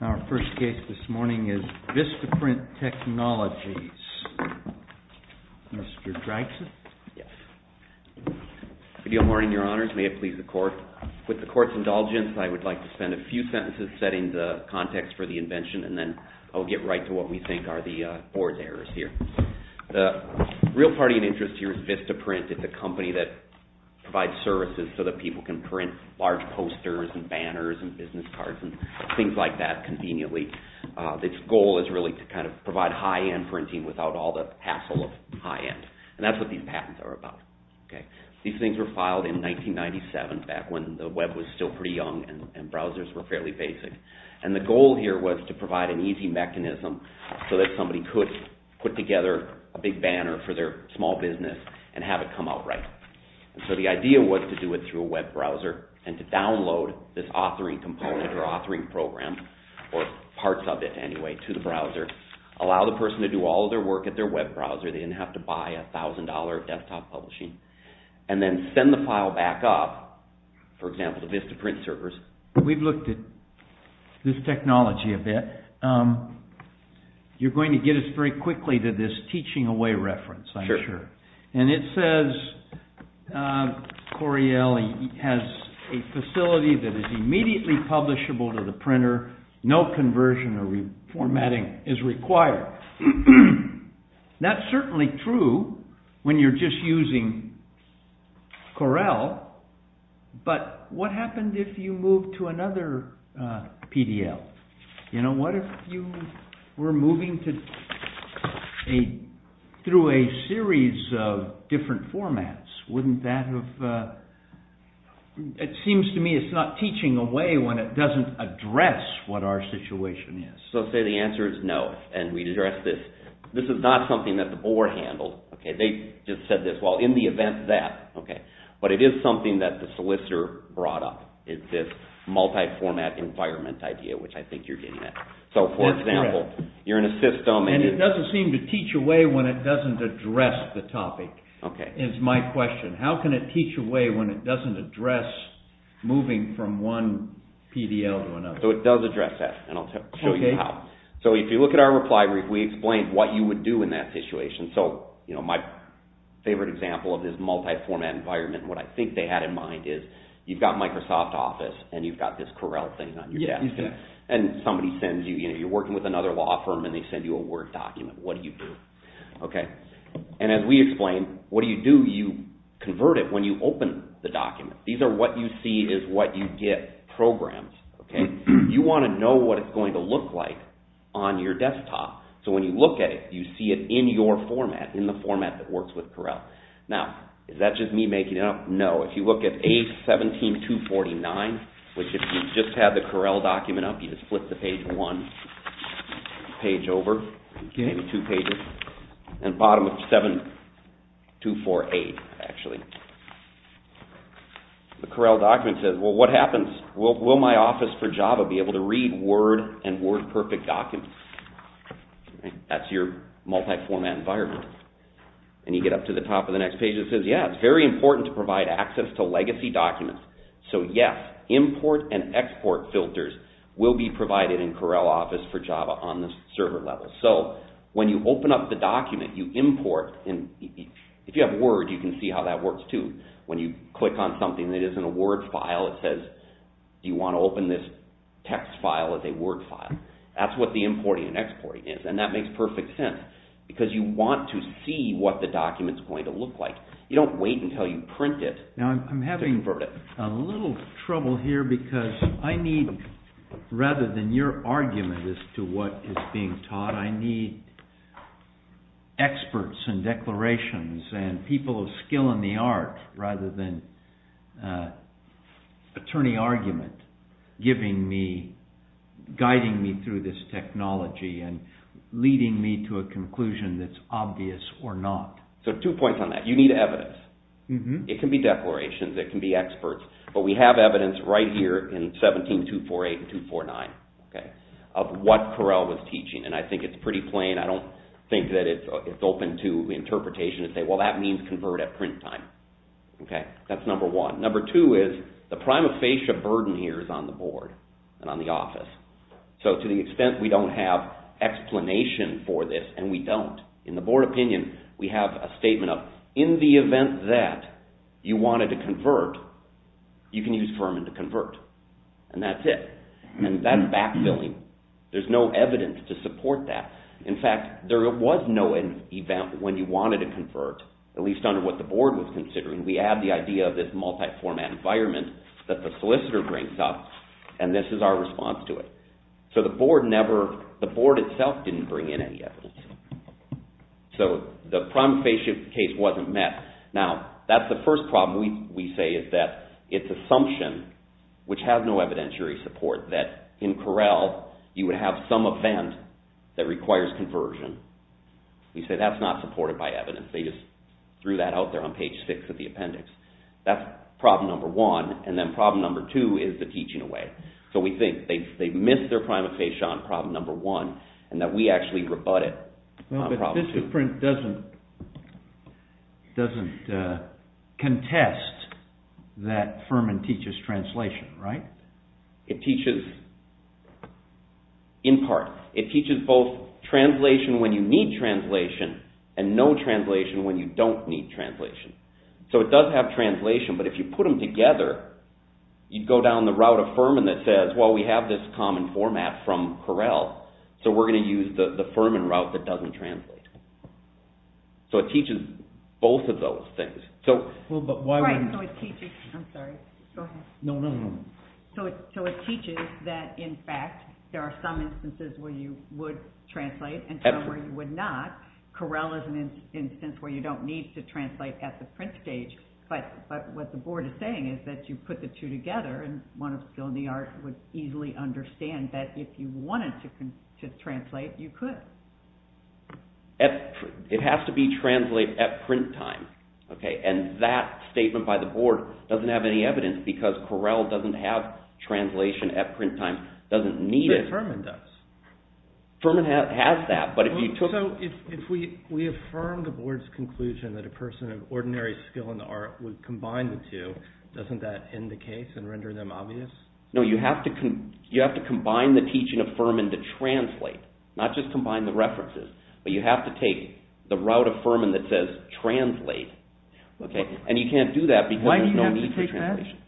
Our first case this morning is Vistaprint Technologies, Mr. Gregson. Good morning, your honors, may it please the court. With the court's indulgence, I would like to spend a few sentences setting the context for the invention and then I'll get right to what we think are the board's errors here. The real party of interest here is Vistaprint. Vistaprint is a company that provides services so that people can print large posters and banners and business cards and things like that conveniently. Its goal is really to provide high-end printing without all the hassle of high-end and that's what these patents are about. These things were filed in 1997 back when the web was still pretty young and browsers were fairly basic. The goal here was to provide an easy mechanism so that somebody could put together a big banner for their small business and have it come out right. So the idea was to do it through a web browser and to download this authoring component or authoring program or parts of it anyway to the browser, allow the person to do all of their work at their web browser, they didn't have to buy a thousand dollar desktop publishing, and then send the file back up, for example, to Vistaprint servers. We've looked at this technology a bit. You're going to get us very quickly to this teaching away reference, I'm sure. And it says Coriell has a facility that is immediately publishable to the printer, no conversion or reformatting is required. That's certainly true when you're just using Corell, but what happens if you move to another PDL? You know, what if you were moving through a series of different formats? Wouldn't that have... It seems to me it's not teaching away when it doesn't address what our situation is. So say the answer is no and we address this. This is not something that the board handled. They just said this, well, in the event that, but it is something that the solicitor brought up, is this multi-format environment idea, which I think you're getting at. So for example, you're in a system... And it doesn't seem to teach away when it doesn't address the topic, is my question. How can it teach away when it doesn't address moving from one PDL to another? So it does address that, and I'll show you how. So if you look at our reply brief, we explained what you would do in that situation. So my favorite example of this multi-format environment, what I think they had in mind is you've got Microsoft Office and you've got this Corel thing on your desk. And somebody sends you, you're working with another law firm and they send you a Word document. What do you do? And as we explained, what do you do? You convert it when you open the document. These are what you see is what you get programmed. You want to know what it's going to look like on your desktop. So when you look at it, you see it in your format, in the format that works with Corel. Now, is that just me making it up? No. If you look at A17249, which if you just had the Corel document up, you just flip the page one, page over, two pages, and bottom of 7248, actually. The Corel document says, well, what happens? Will my Office for Java be able to read Word and WordPerfect documents? That's your multi-format environment. And you get up to the top of the next page. It says, yeah, it's very important to provide access to legacy documents. So yes, import and export filters will be provided in Corel Office for Java on the server level. So when you open up the document, you import. If you have Word, you can see how that works too. When you click on something that isn't a Word file, it says, do you want to open this text file as a Word file? That's what the importing and exporting is. And that makes perfect sense because you want to see what the document is going to look like. You don't wait until you print it to invert it. Now, I'm having a little trouble here because I need, rather than your argument as to what is being taught, I need experts and declarations and people of skill in the art rather than attorney argument guiding me through this technology. And leading me to a conclusion that's obvious or not. So two points on that. You need evidence. It can be declarations. It can be experts. But we have evidence right here in 17248 and 249 of what Corel was teaching. And I think it's pretty plain. I don't think that it's open to interpretation to say, well, that means convert at print time. That's number one. Number two is the prima facie burden here is on the board and on the office. So to the extent we don't have explanation for this, and we don't, in the board opinion we have a statement of, in the event that you wanted to convert, you can use Furman to convert. And that's it. And that's backfilling. There's no evidence to support that. In fact, there was no event when you wanted to convert, at least under what the board was considering. We add the idea of this multi-format environment that the solicitor brings up, and this is our response to it. So the board itself didn't bring in any evidence. So the prima facie case wasn't met. Now, that's the first problem we say is that it's assumption, which has no evidentiary support, that in Corel you would have some event that requires conversion. We say that's not supported by evidence. They just threw that out there on page six of the appendix. That's problem number one. And then problem number two is the teaching away. So we think they've missed their prima facie on problem number one, and that we actually rebut it on problem number two. But DistroPrint doesn't contest that Furman teaches translation, right? It teaches in part. It teaches both translation when you need translation, and no translation when you don't need translation. So it does have translation, but if you put them together, you'd go down the route of Furman that says, well, we have this common format from Corel, so we're going to use the Furman route that doesn't translate. So it teaches both of those things. So it teaches that, in fact, there are some instances where you would translate, and some where you would not. Corel is an instance where you don't need to translate at the print stage, but what the board is saying is that you put the two together, and one of skill in the art would easily understand that if you wanted to translate, you could. It has to be translated at print time, and that statement by the board doesn't have any evidence because Corel doesn't have translation at print time. It doesn't need it. But Furman does. Furman has that. So if we affirm the board's conclusion that a person of ordinary skill in the art would combine the two, doesn't that end the case and render them obvious? No, you have to combine the teaching of Furman to translate, not just combine the references, but you have to take the route of Furman that says translate, and you can't do that because there's no need for translation. Why do you have to take that?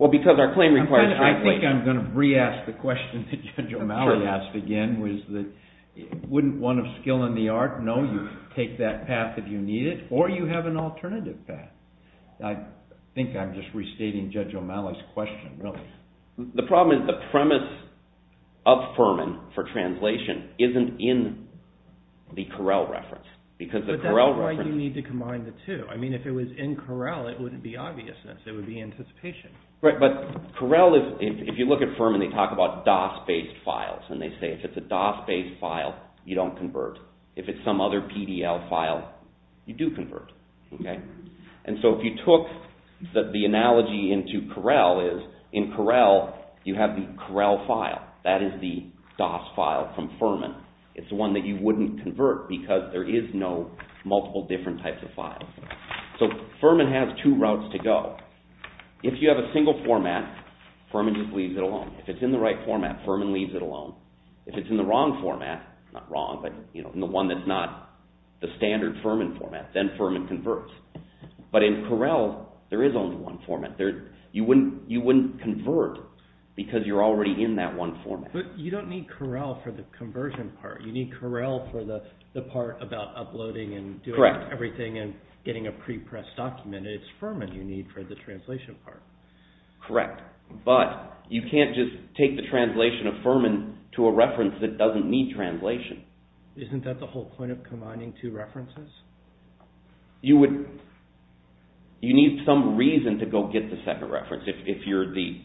Well, because our claim requires translation. I think I'm going to re-ask the question that Judge O'Malley asked again, which is wouldn't one of skill in the art know you take that path if you need it, or you have an alternative path. I think I'm just restating Judge O'Malley's question, really. The problem is the premise of Furman for translation isn't in the Corel reference. But that's why you need to combine the two. I mean, if it was in Corel, it wouldn't be obviousness. It would be anticipation. Right, but Corel, if you look at Furman, they talk about DOS-based files, and they say if it's a DOS-based file, you don't convert. If it's some other PDL file, you do convert. And so if you took the analogy into Corel, in Corel, you have the Corel file. That is the DOS file from Furman. It's the one that you wouldn't convert because there is no multiple different types of files. So Furman has two routes to go. If you have a single format, Furman just leaves it alone. If it's in the right format, Furman leaves it alone. If it's in the wrong format, not wrong, but the one that's not the standard Furman format, then Furman converts. But in Corel, there is only one format. You wouldn't convert because you're already in that one format. But you don't need Corel for the conversion part. You need Corel for the part about uploading and doing everything and getting a pre-pressed document. It's Furman you need for the translation part. Correct. But you can't just take the translation of Furman to a reference that doesn't need translation. Isn't that the whole point of combining two references? You need some reason to go get the second reference. If you're the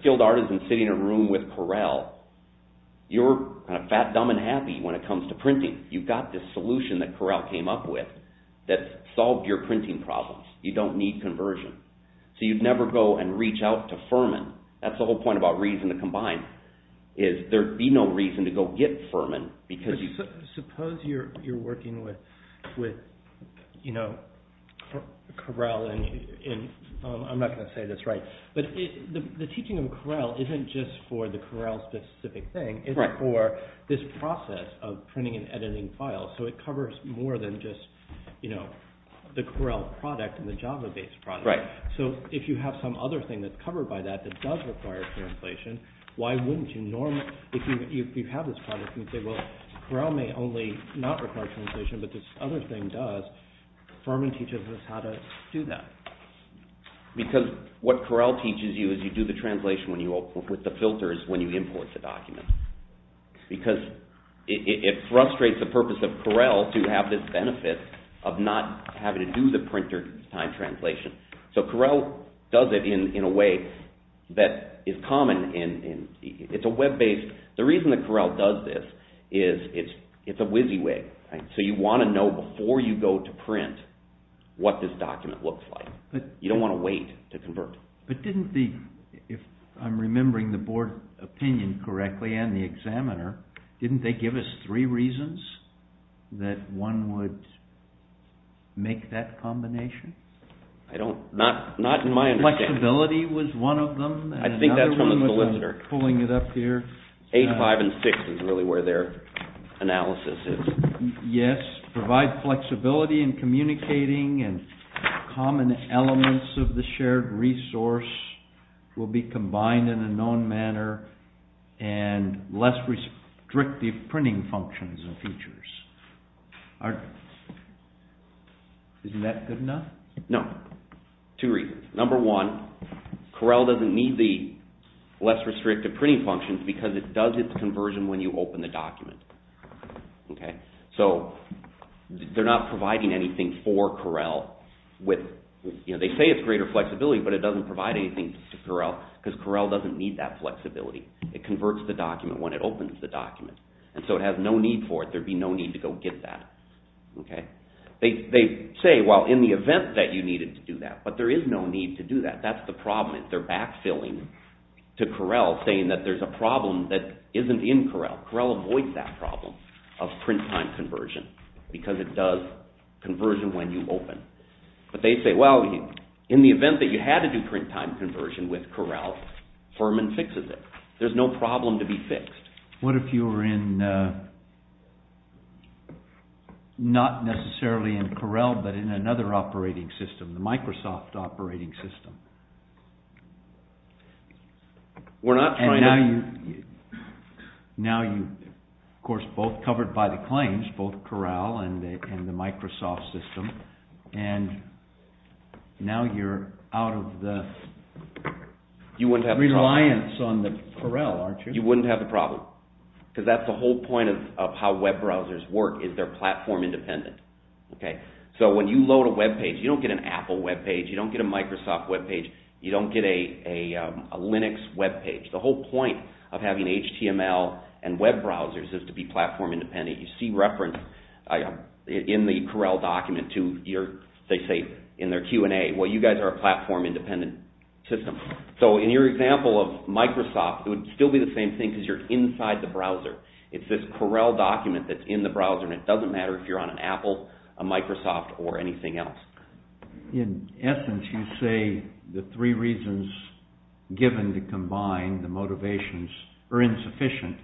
skilled artisan sitting in a room with Corel, you're kind of fat, dumb, and happy when it comes to printing. You've got this solution that Corel came up with that solved your printing problems. You don't need conversion. So you'd never go and reach out to Furman. That's the whole point about reason to combine. There would be no reason to go get Furman. Suppose you're working with Corel. I'm not going to say this right, but the teaching of Corel isn't just for the Corel-specific thing. It's for this process of printing and editing files. So it covers more than just the Corel product and the Java-based product. Right. So if you have some other thing that's covered by that that does require translation, why wouldn't you normally – if you have this product and you say, well, Corel may only not require translation, but this other thing does, Furman teaches us how to do that. Because what Corel teaches you is you do the translation with the filters when you import the document. Because it frustrates the purpose of Corel to have this benefit of not having to do the printer-time translation. So Corel does it in a way that is common. It's a web-based – the reason that Corel does this is it's a WYSIWYG. So you want to know before you go to print what this document looks like. You don't want to wait to convert. But didn't the – if I'm remembering the board opinion correctly and the examiner, didn't they give us three reasons that one would make that combination? I don't – not in my understanding. Flexibility was one of them. I think that's from the solicitor. Pulling it up here. Age 5 and 6 is really where their analysis is. Yes, provide flexibility in communicating and common elements of the shared resource will be combined in a known manner and less restrictive printing functions and features. Isn't that good enough? No. Two reasons. Number one, Corel doesn't need the less restrictive printing functions because it does its conversion when you open the document. So they're not providing anything for Corel with – they say it's greater flexibility, but it doesn't provide anything to Corel because Corel doesn't need that flexibility. It converts the document when it opens the document. So it has no need for it. There would be no need to go get that. They say, well, in the event that you needed to do that, but there is no need to do that. That's the problem. They're back-filling to Corel saying that there's a problem that isn't in Corel. Corel avoids that problem of print time conversion because it does conversion when you open. But they say, well, in the event that you had to do print time conversion with Corel, Furman fixes it. There's no problem to be fixed. What if you were in – not necessarily in Corel, but in another operating system, the Microsoft operating system? We're not trying to – And now you, of course, both covered by the claims, both Corel and the Microsoft system, and now you're out of the reliance on the Corel, aren't you? You wouldn't have the problem because that's the whole point of how web browsers work is they're platform independent. So when you load a web page, you don't get an Apple web page. You don't get a Microsoft web page. You don't get a Linux web page. The whole point of having HTML and web browsers is to be platform independent. You see reference in the Corel document to your – they say in their Q&A, well, you guys are a platform independent system. So in your example of Microsoft, it would still be the same thing because you're inside the browser. It's this Corel document that's in the browser, and it doesn't matter if you're on an Apple, a Microsoft, or anything else. In essence, you say the three reasons given to combine the motivations are insufficient,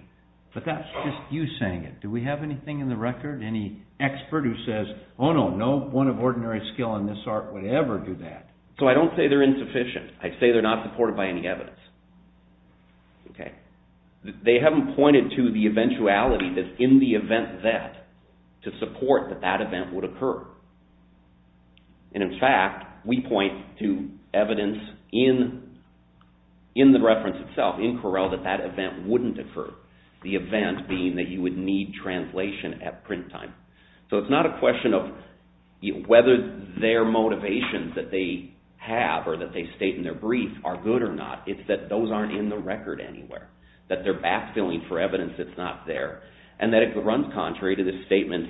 but that's just you saying it. Do we have anything in the record, any expert who says, oh, no, no one of ordinary skill in this art would ever do that? So I don't say they're insufficient. I say they're not supported by any evidence. They haven't pointed to the eventuality that in the event that to support that that event would occur. In fact, we point to evidence in the reference itself, in Corel, that that event wouldn't occur, the event being that you would need translation at print time. So it's not a question of whether their motivations that they have or that they state in their brief are good or not. It's that those aren't in the record anywhere, that they're backfilling for evidence that's not there, and that it runs contrary to the statement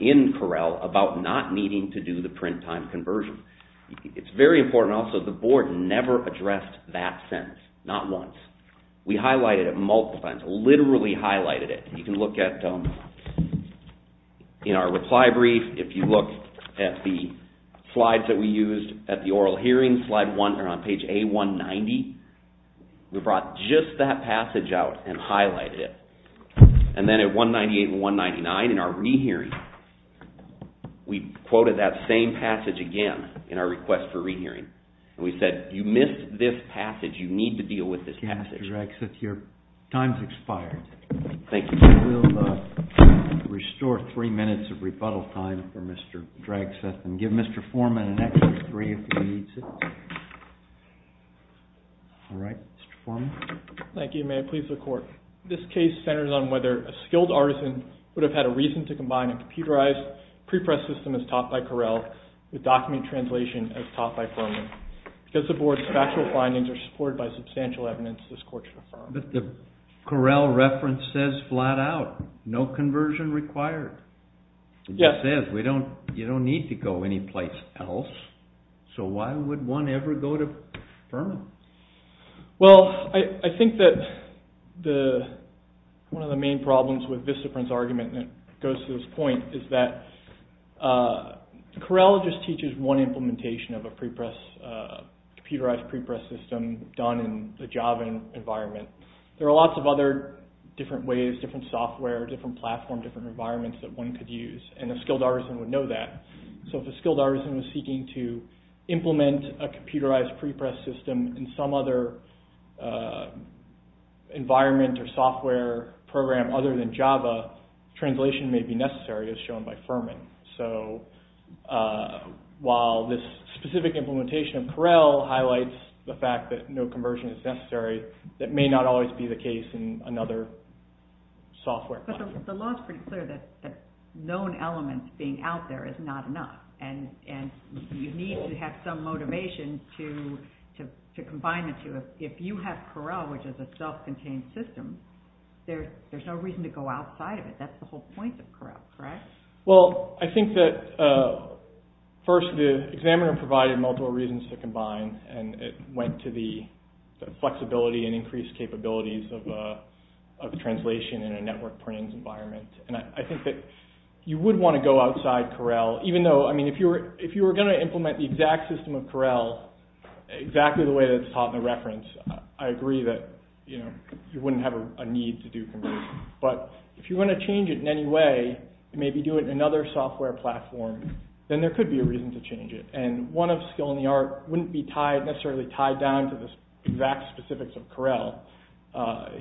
in Corel about not needing to do the print time conversion. It's very important also the board never addressed that sentence, not once. We highlighted it multiple times, literally highlighted it. You can look at in our reply brief, if you look at the slides that we used at the oral hearing, on page A190, we brought just that passage out and highlighted it. And then at 198 and 199 in our rehearing, we quoted that same passage again in our request for rehearing. And we said, you missed this passage. You need to deal with this passage. Mr. Dragseth, your time's expired. Thank you. We'll restore three minutes of rebuttal time for Mr. Dragseth and give Mr. Foreman an extra three if he needs it. All right. Mr. Foreman. Thank you. May it please the court. This case centers on whether a skilled artisan would have had a reason to combine a computerized pre-press system as taught by Corel with document translation as taught by Foreman. Because the board's factual findings are supported by substantial evidence, this court should affirm. But the Corel reference says flat out, no conversion required. Yes. It says you don't need to go anyplace else. So why would one ever go to Foreman? Well, I think that one of the main problems with Vistaprint's argument that goes to this point is that Corel just teaches one implementation of a computerized pre-press system done in the Java environment. There are lots of other different ways, different software, different platform, different environments that one could use, and a skilled artisan would know that. So if a skilled artisan was seeking to implement a computerized pre-press system in some other environment or software program other than Java, translation may be necessary as shown by Foreman. So while this specific implementation of Corel highlights the fact that no conversion is necessary, that may not always be the case in another software platform. But the law is pretty clear that known elements being out there is not enough, and you need to have some motivation to combine the two. If you have Corel, which is a self-contained system, there's no reason to go outside of it. That's the whole point of Corel, correct? Well, I think that first the examiner provided multiple reasons to combine, and it went to the flexibility and increased capabilities of translation in a network printing environment. I think that you would want to go outside Corel, even though if you were going to implement the exact system of Corel, exactly the way that's taught in the reference, I agree that you wouldn't have a need to do conversion. But if you're going to change it in any way, maybe do it in another software platform, then there could be a reason to change it. One of skill and the art wouldn't be necessarily tied down to the exact specifics of Corel.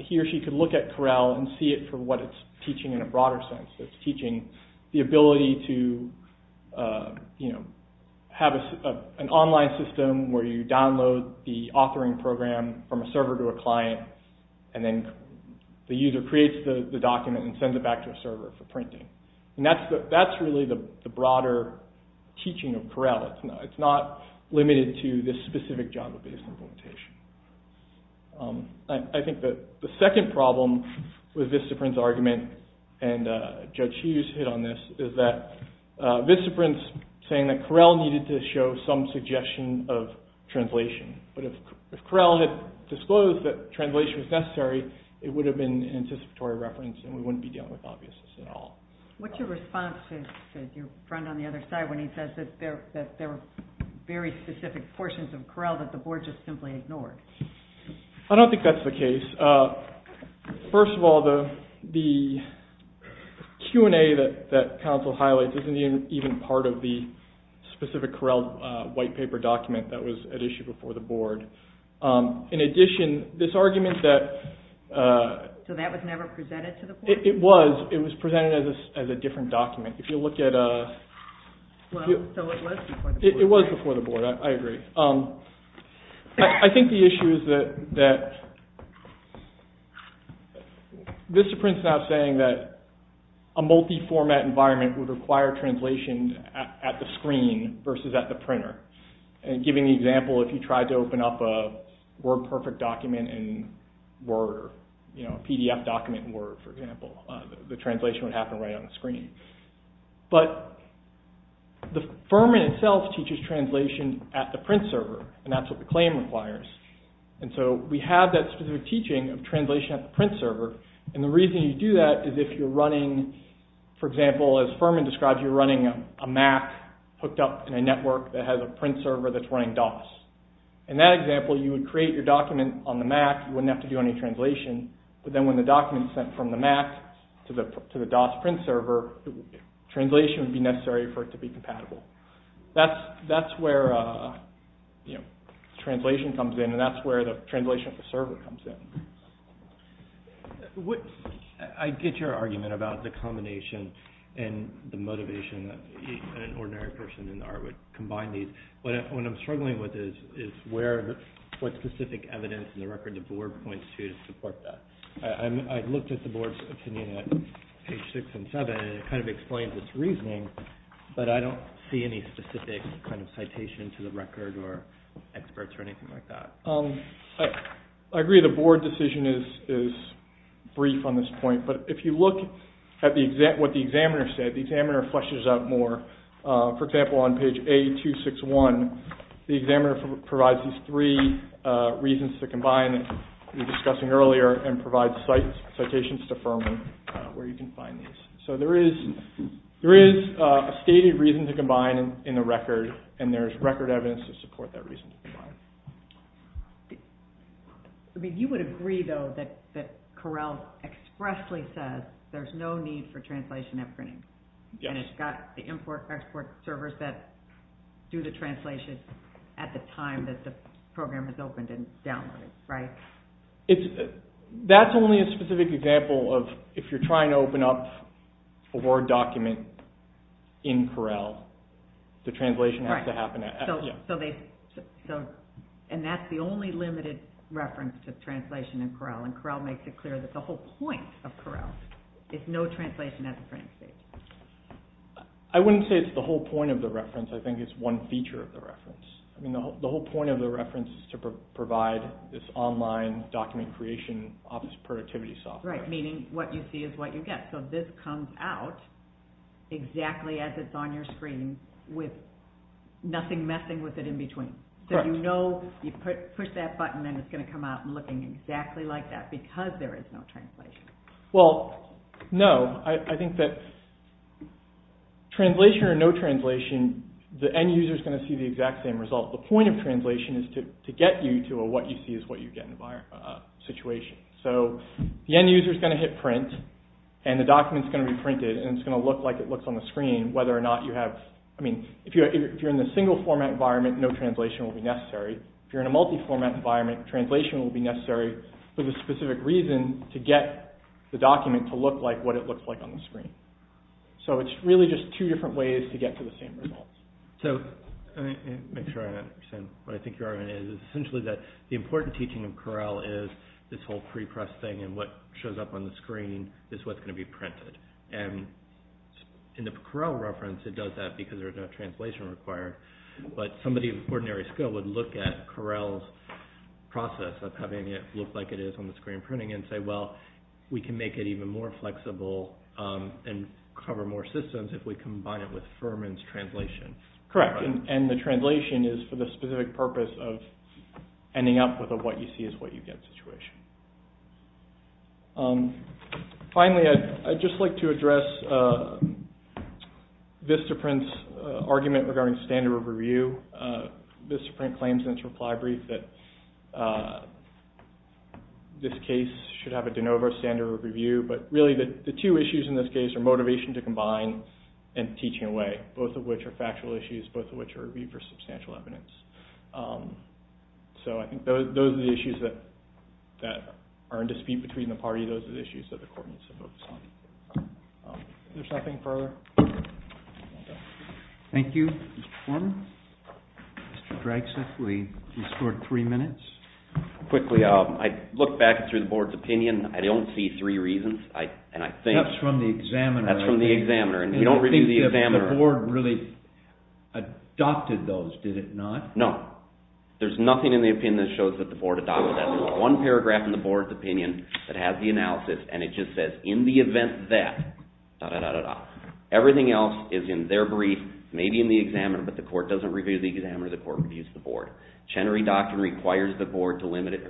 He or she could look at Corel and see it for what it's teaching in a broader sense. It's teaching the ability to have an online system where you download the authoring program from a server to a client, and then the user creates the document and sends it back to a server for printing. That's really the broader teaching of Corel. It's not limited to this specific Java-based implementation. I think that the second problem with Vistaprint's argument, and Judge Hughes hit on this, is that Vistaprint's saying that Corel needed to show some suggestion of translation. It would have been an anticipatory reference, and we wouldn't be dealing with obviousness at all. What's your response to your friend on the other side when he says that there are very specific portions of Corel that the board just simply ignored? I don't think that's the case. First of all, the Q&A that counsel highlights isn't even part of the specific Corel white paper document that was at issue before the board. In addition, this argument that... So that was never presented to the board? It was. It was presented as a different document. If you look at... So it was before the board. It was before the board. I agree. I think the issue is that Vistaprint's now saying that a multi-format environment would require translation at the screen versus at the printer. And giving the example, if you tried to open up a WordPerfect document in Word, a PDF document in Word, for example, the translation would happen right on the screen. But Furman itself teaches translation at the print server, and that's what the claim requires. And so we have that specific teaching of translation at the print server, and the reason you do that is if you're running, for example, as Furman describes, you're running a Mac hooked up in a network that has a print server that's running DOS. In that example, you would create your document on the Mac. You wouldn't have to do any translation. But then when the document is sent from the Mac to the DOS print server, translation would be necessary for it to be compatible. That's where translation comes in, and that's where the translation of the server comes in. I get your argument about the combination and the motivation that an ordinary person in the art would combine these. What I'm struggling with is what specific evidence in the record the board points to to support that. I looked at the board's opinion at page 6 and 7, and it kind of explains its reasoning, but I don't see any specific kind of citation to the record or experts or anything like that. I agree the board decision is brief on this point, but if you look at what the examiner said, the examiner fleshes out more. For example, on page A261, the examiner provides these three reasons to combine that we were discussing earlier and provides citations to firm where you can find these. So there is a stated reason to combine in the record, and there is record evidence to support that reason to combine. You would agree, though, that Correll expressly says there's no need for translation at printing, and it's got the import and export servers that do the translation at the time that the program is opened and downloaded, right? That's only a specific example of if you're trying to open up a Word document in Correll, the translation has to happen at printing. And that's the only limited reference to translation in Correll, and Correll makes it clear that the whole point of Correll is no translation at the printing stage. I wouldn't say it's the whole point of the reference. I think it's one feature of the reference. I mean, the whole point of the reference is to provide this online document creation office productivity software. Right, meaning what you see is what you get. So this comes out exactly as it's on your screen with nothing messing with it in between. Correct. So you know you push that button, and then it's going to come out looking exactly like that because there is no translation. Well, no. I think that translation or no translation, the end user's going to see the exact same result. The point of translation is to get you to a what you see is what you get situation. So the end user's going to hit print, and the document's going to be printed, and it's going to look like it looks on the screen whether or not you have, I mean, if you're in the single format environment, no translation will be necessary. If you're in a multi-format environment, translation will be necessary for the specific reason to get the document to look like what it looks like on the screen. So it's really just two different ways to get to the same result. So, let me make sure I understand what I think your argument is. It's essentially that the important teaching of Corel is this whole pre-press thing, and what shows up on the screen is what's going to be printed. And in the Corel reference, it does that because there's no translation required. But somebody of ordinary skill would look at Corel's process of having it look like it is on the screen printing and say, well, we can make it even more flexible and cover more systems if we combine it with Furman's translation. Correct. And the translation is for the specific purpose of ending up with a what you see is what you get situation. Finally, I'd just like to address Vistaprint's argument regarding standard review. Vistaprint claims in its reply brief that this case should have a de novo standard review, but really the two issues in this case are motivation to combine and teaching away, both of which are factual issues, both of which are reviewed for substantial evidence. So I think those are the issues that are in dispute between the parties. Those are the issues that the court needs to focus on. Is there something further? Thank you, Mr. Furman. Mr. Draxler, you scored three minutes. Quickly, I looked back through the board's opinion. I don't see three reasons. That's from the examiner. That's from the examiner, and we don't review the examiner. I don't think the board really adopted those, did it not? No, there's nothing in the opinion that shows that the board adopted that. There's only one paragraph in the board's opinion that has the analysis, and it just says, in the event that... Everything else is in their brief, maybe in the examiner, but the court doesn't review the examiner. The court reviews the board. Chenery Doctrine requires the court to limit its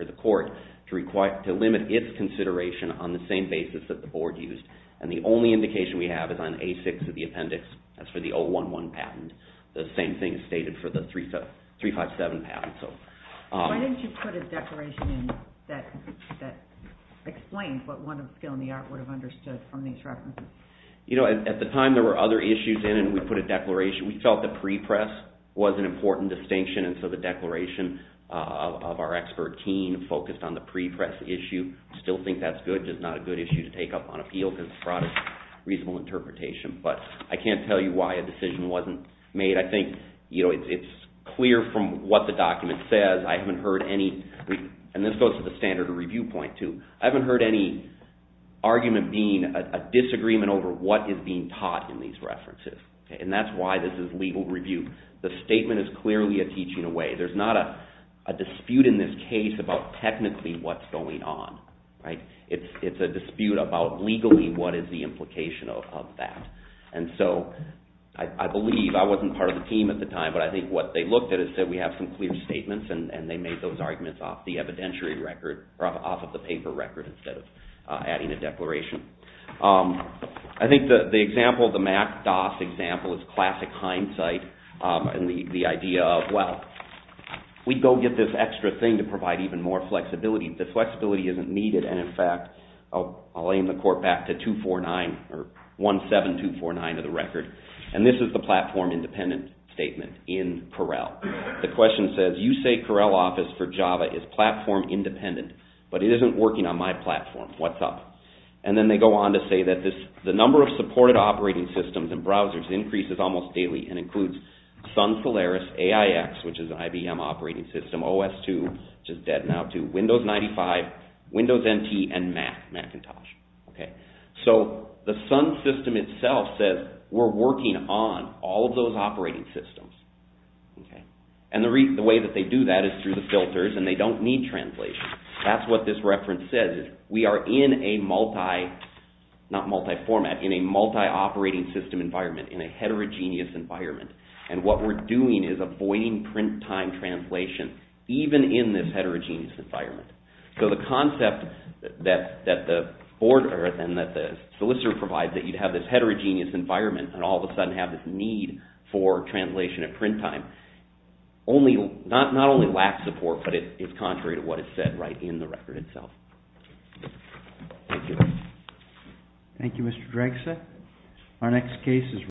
consideration on the same basis that the board used, and the only indication we have is on A6 of the appendix. That's for the 011 patent. The same thing is stated for the 357 patent. Why didn't you put a declaration in that explains what one of the skill in the art would have understood from these references? You know, at the time, there were other issues in, and we put a declaration. We felt the pre-press was an important distinction, and so the declaration of our expert team focused on the pre-press issue. Still think that's good, just not a good issue to take up on appeal, because it brought a reasonable interpretation, but I can't tell you why a decision wasn't made. I think, you know, it's clear from what the document says. I haven't heard any... And this goes to the standard of review point, too. I haven't heard any argument being a disagreement over what is being taught in these references, and that's why this is legal review. The statement is clearly a teaching away. There's not a dispute in this case about technically what's going on, right? It's a dispute about legally what is the implication of that, and so I believe... I wasn't part of the team at the time, but I think what they looked at is that we have some clear statements, and they made those arguments off the evidentiary record, or off of the paper record, instead of adding a declaration. I think the example, the MACDAS example, is classic hindsight, and the idea of, well, we'd go get this extra thing to provide even more flexibility. The flexibility isn't needed, and in fact... I'll aim the court back to 249, or 17249 of the record, and this is the platform independent statement in Correll. The question says, you say Correll Office for Java is platform independent, but it isn't working on my platform. What's up? And then they go on to say that the number of supported operating systems and browsers increases almost daily, and includes Sun Solaris, AIX, which is an IBM operating system, OS2, which is dead now too, Windows 95, Windows NT, and Macintosh. So the Sun system itself says, we're working on all of those operating systems. And the way that they do that is through the filters, and they don't need translation. That's what this reference says. We are in a multi, not multi-format, in a multi-operating system environment, in a heterogeneous environment, and what we're doing is avoiding print time translation, even in this heterogeneous environment. So the concept that the solicitor provides, that you'd have this heterogeneous environment, and all of a sudden have this need for translation at print time, not only lacks support, but it's contrary to what is said right in the record itself. Thank you. Thank you, Mr. Dragset. Our next case is...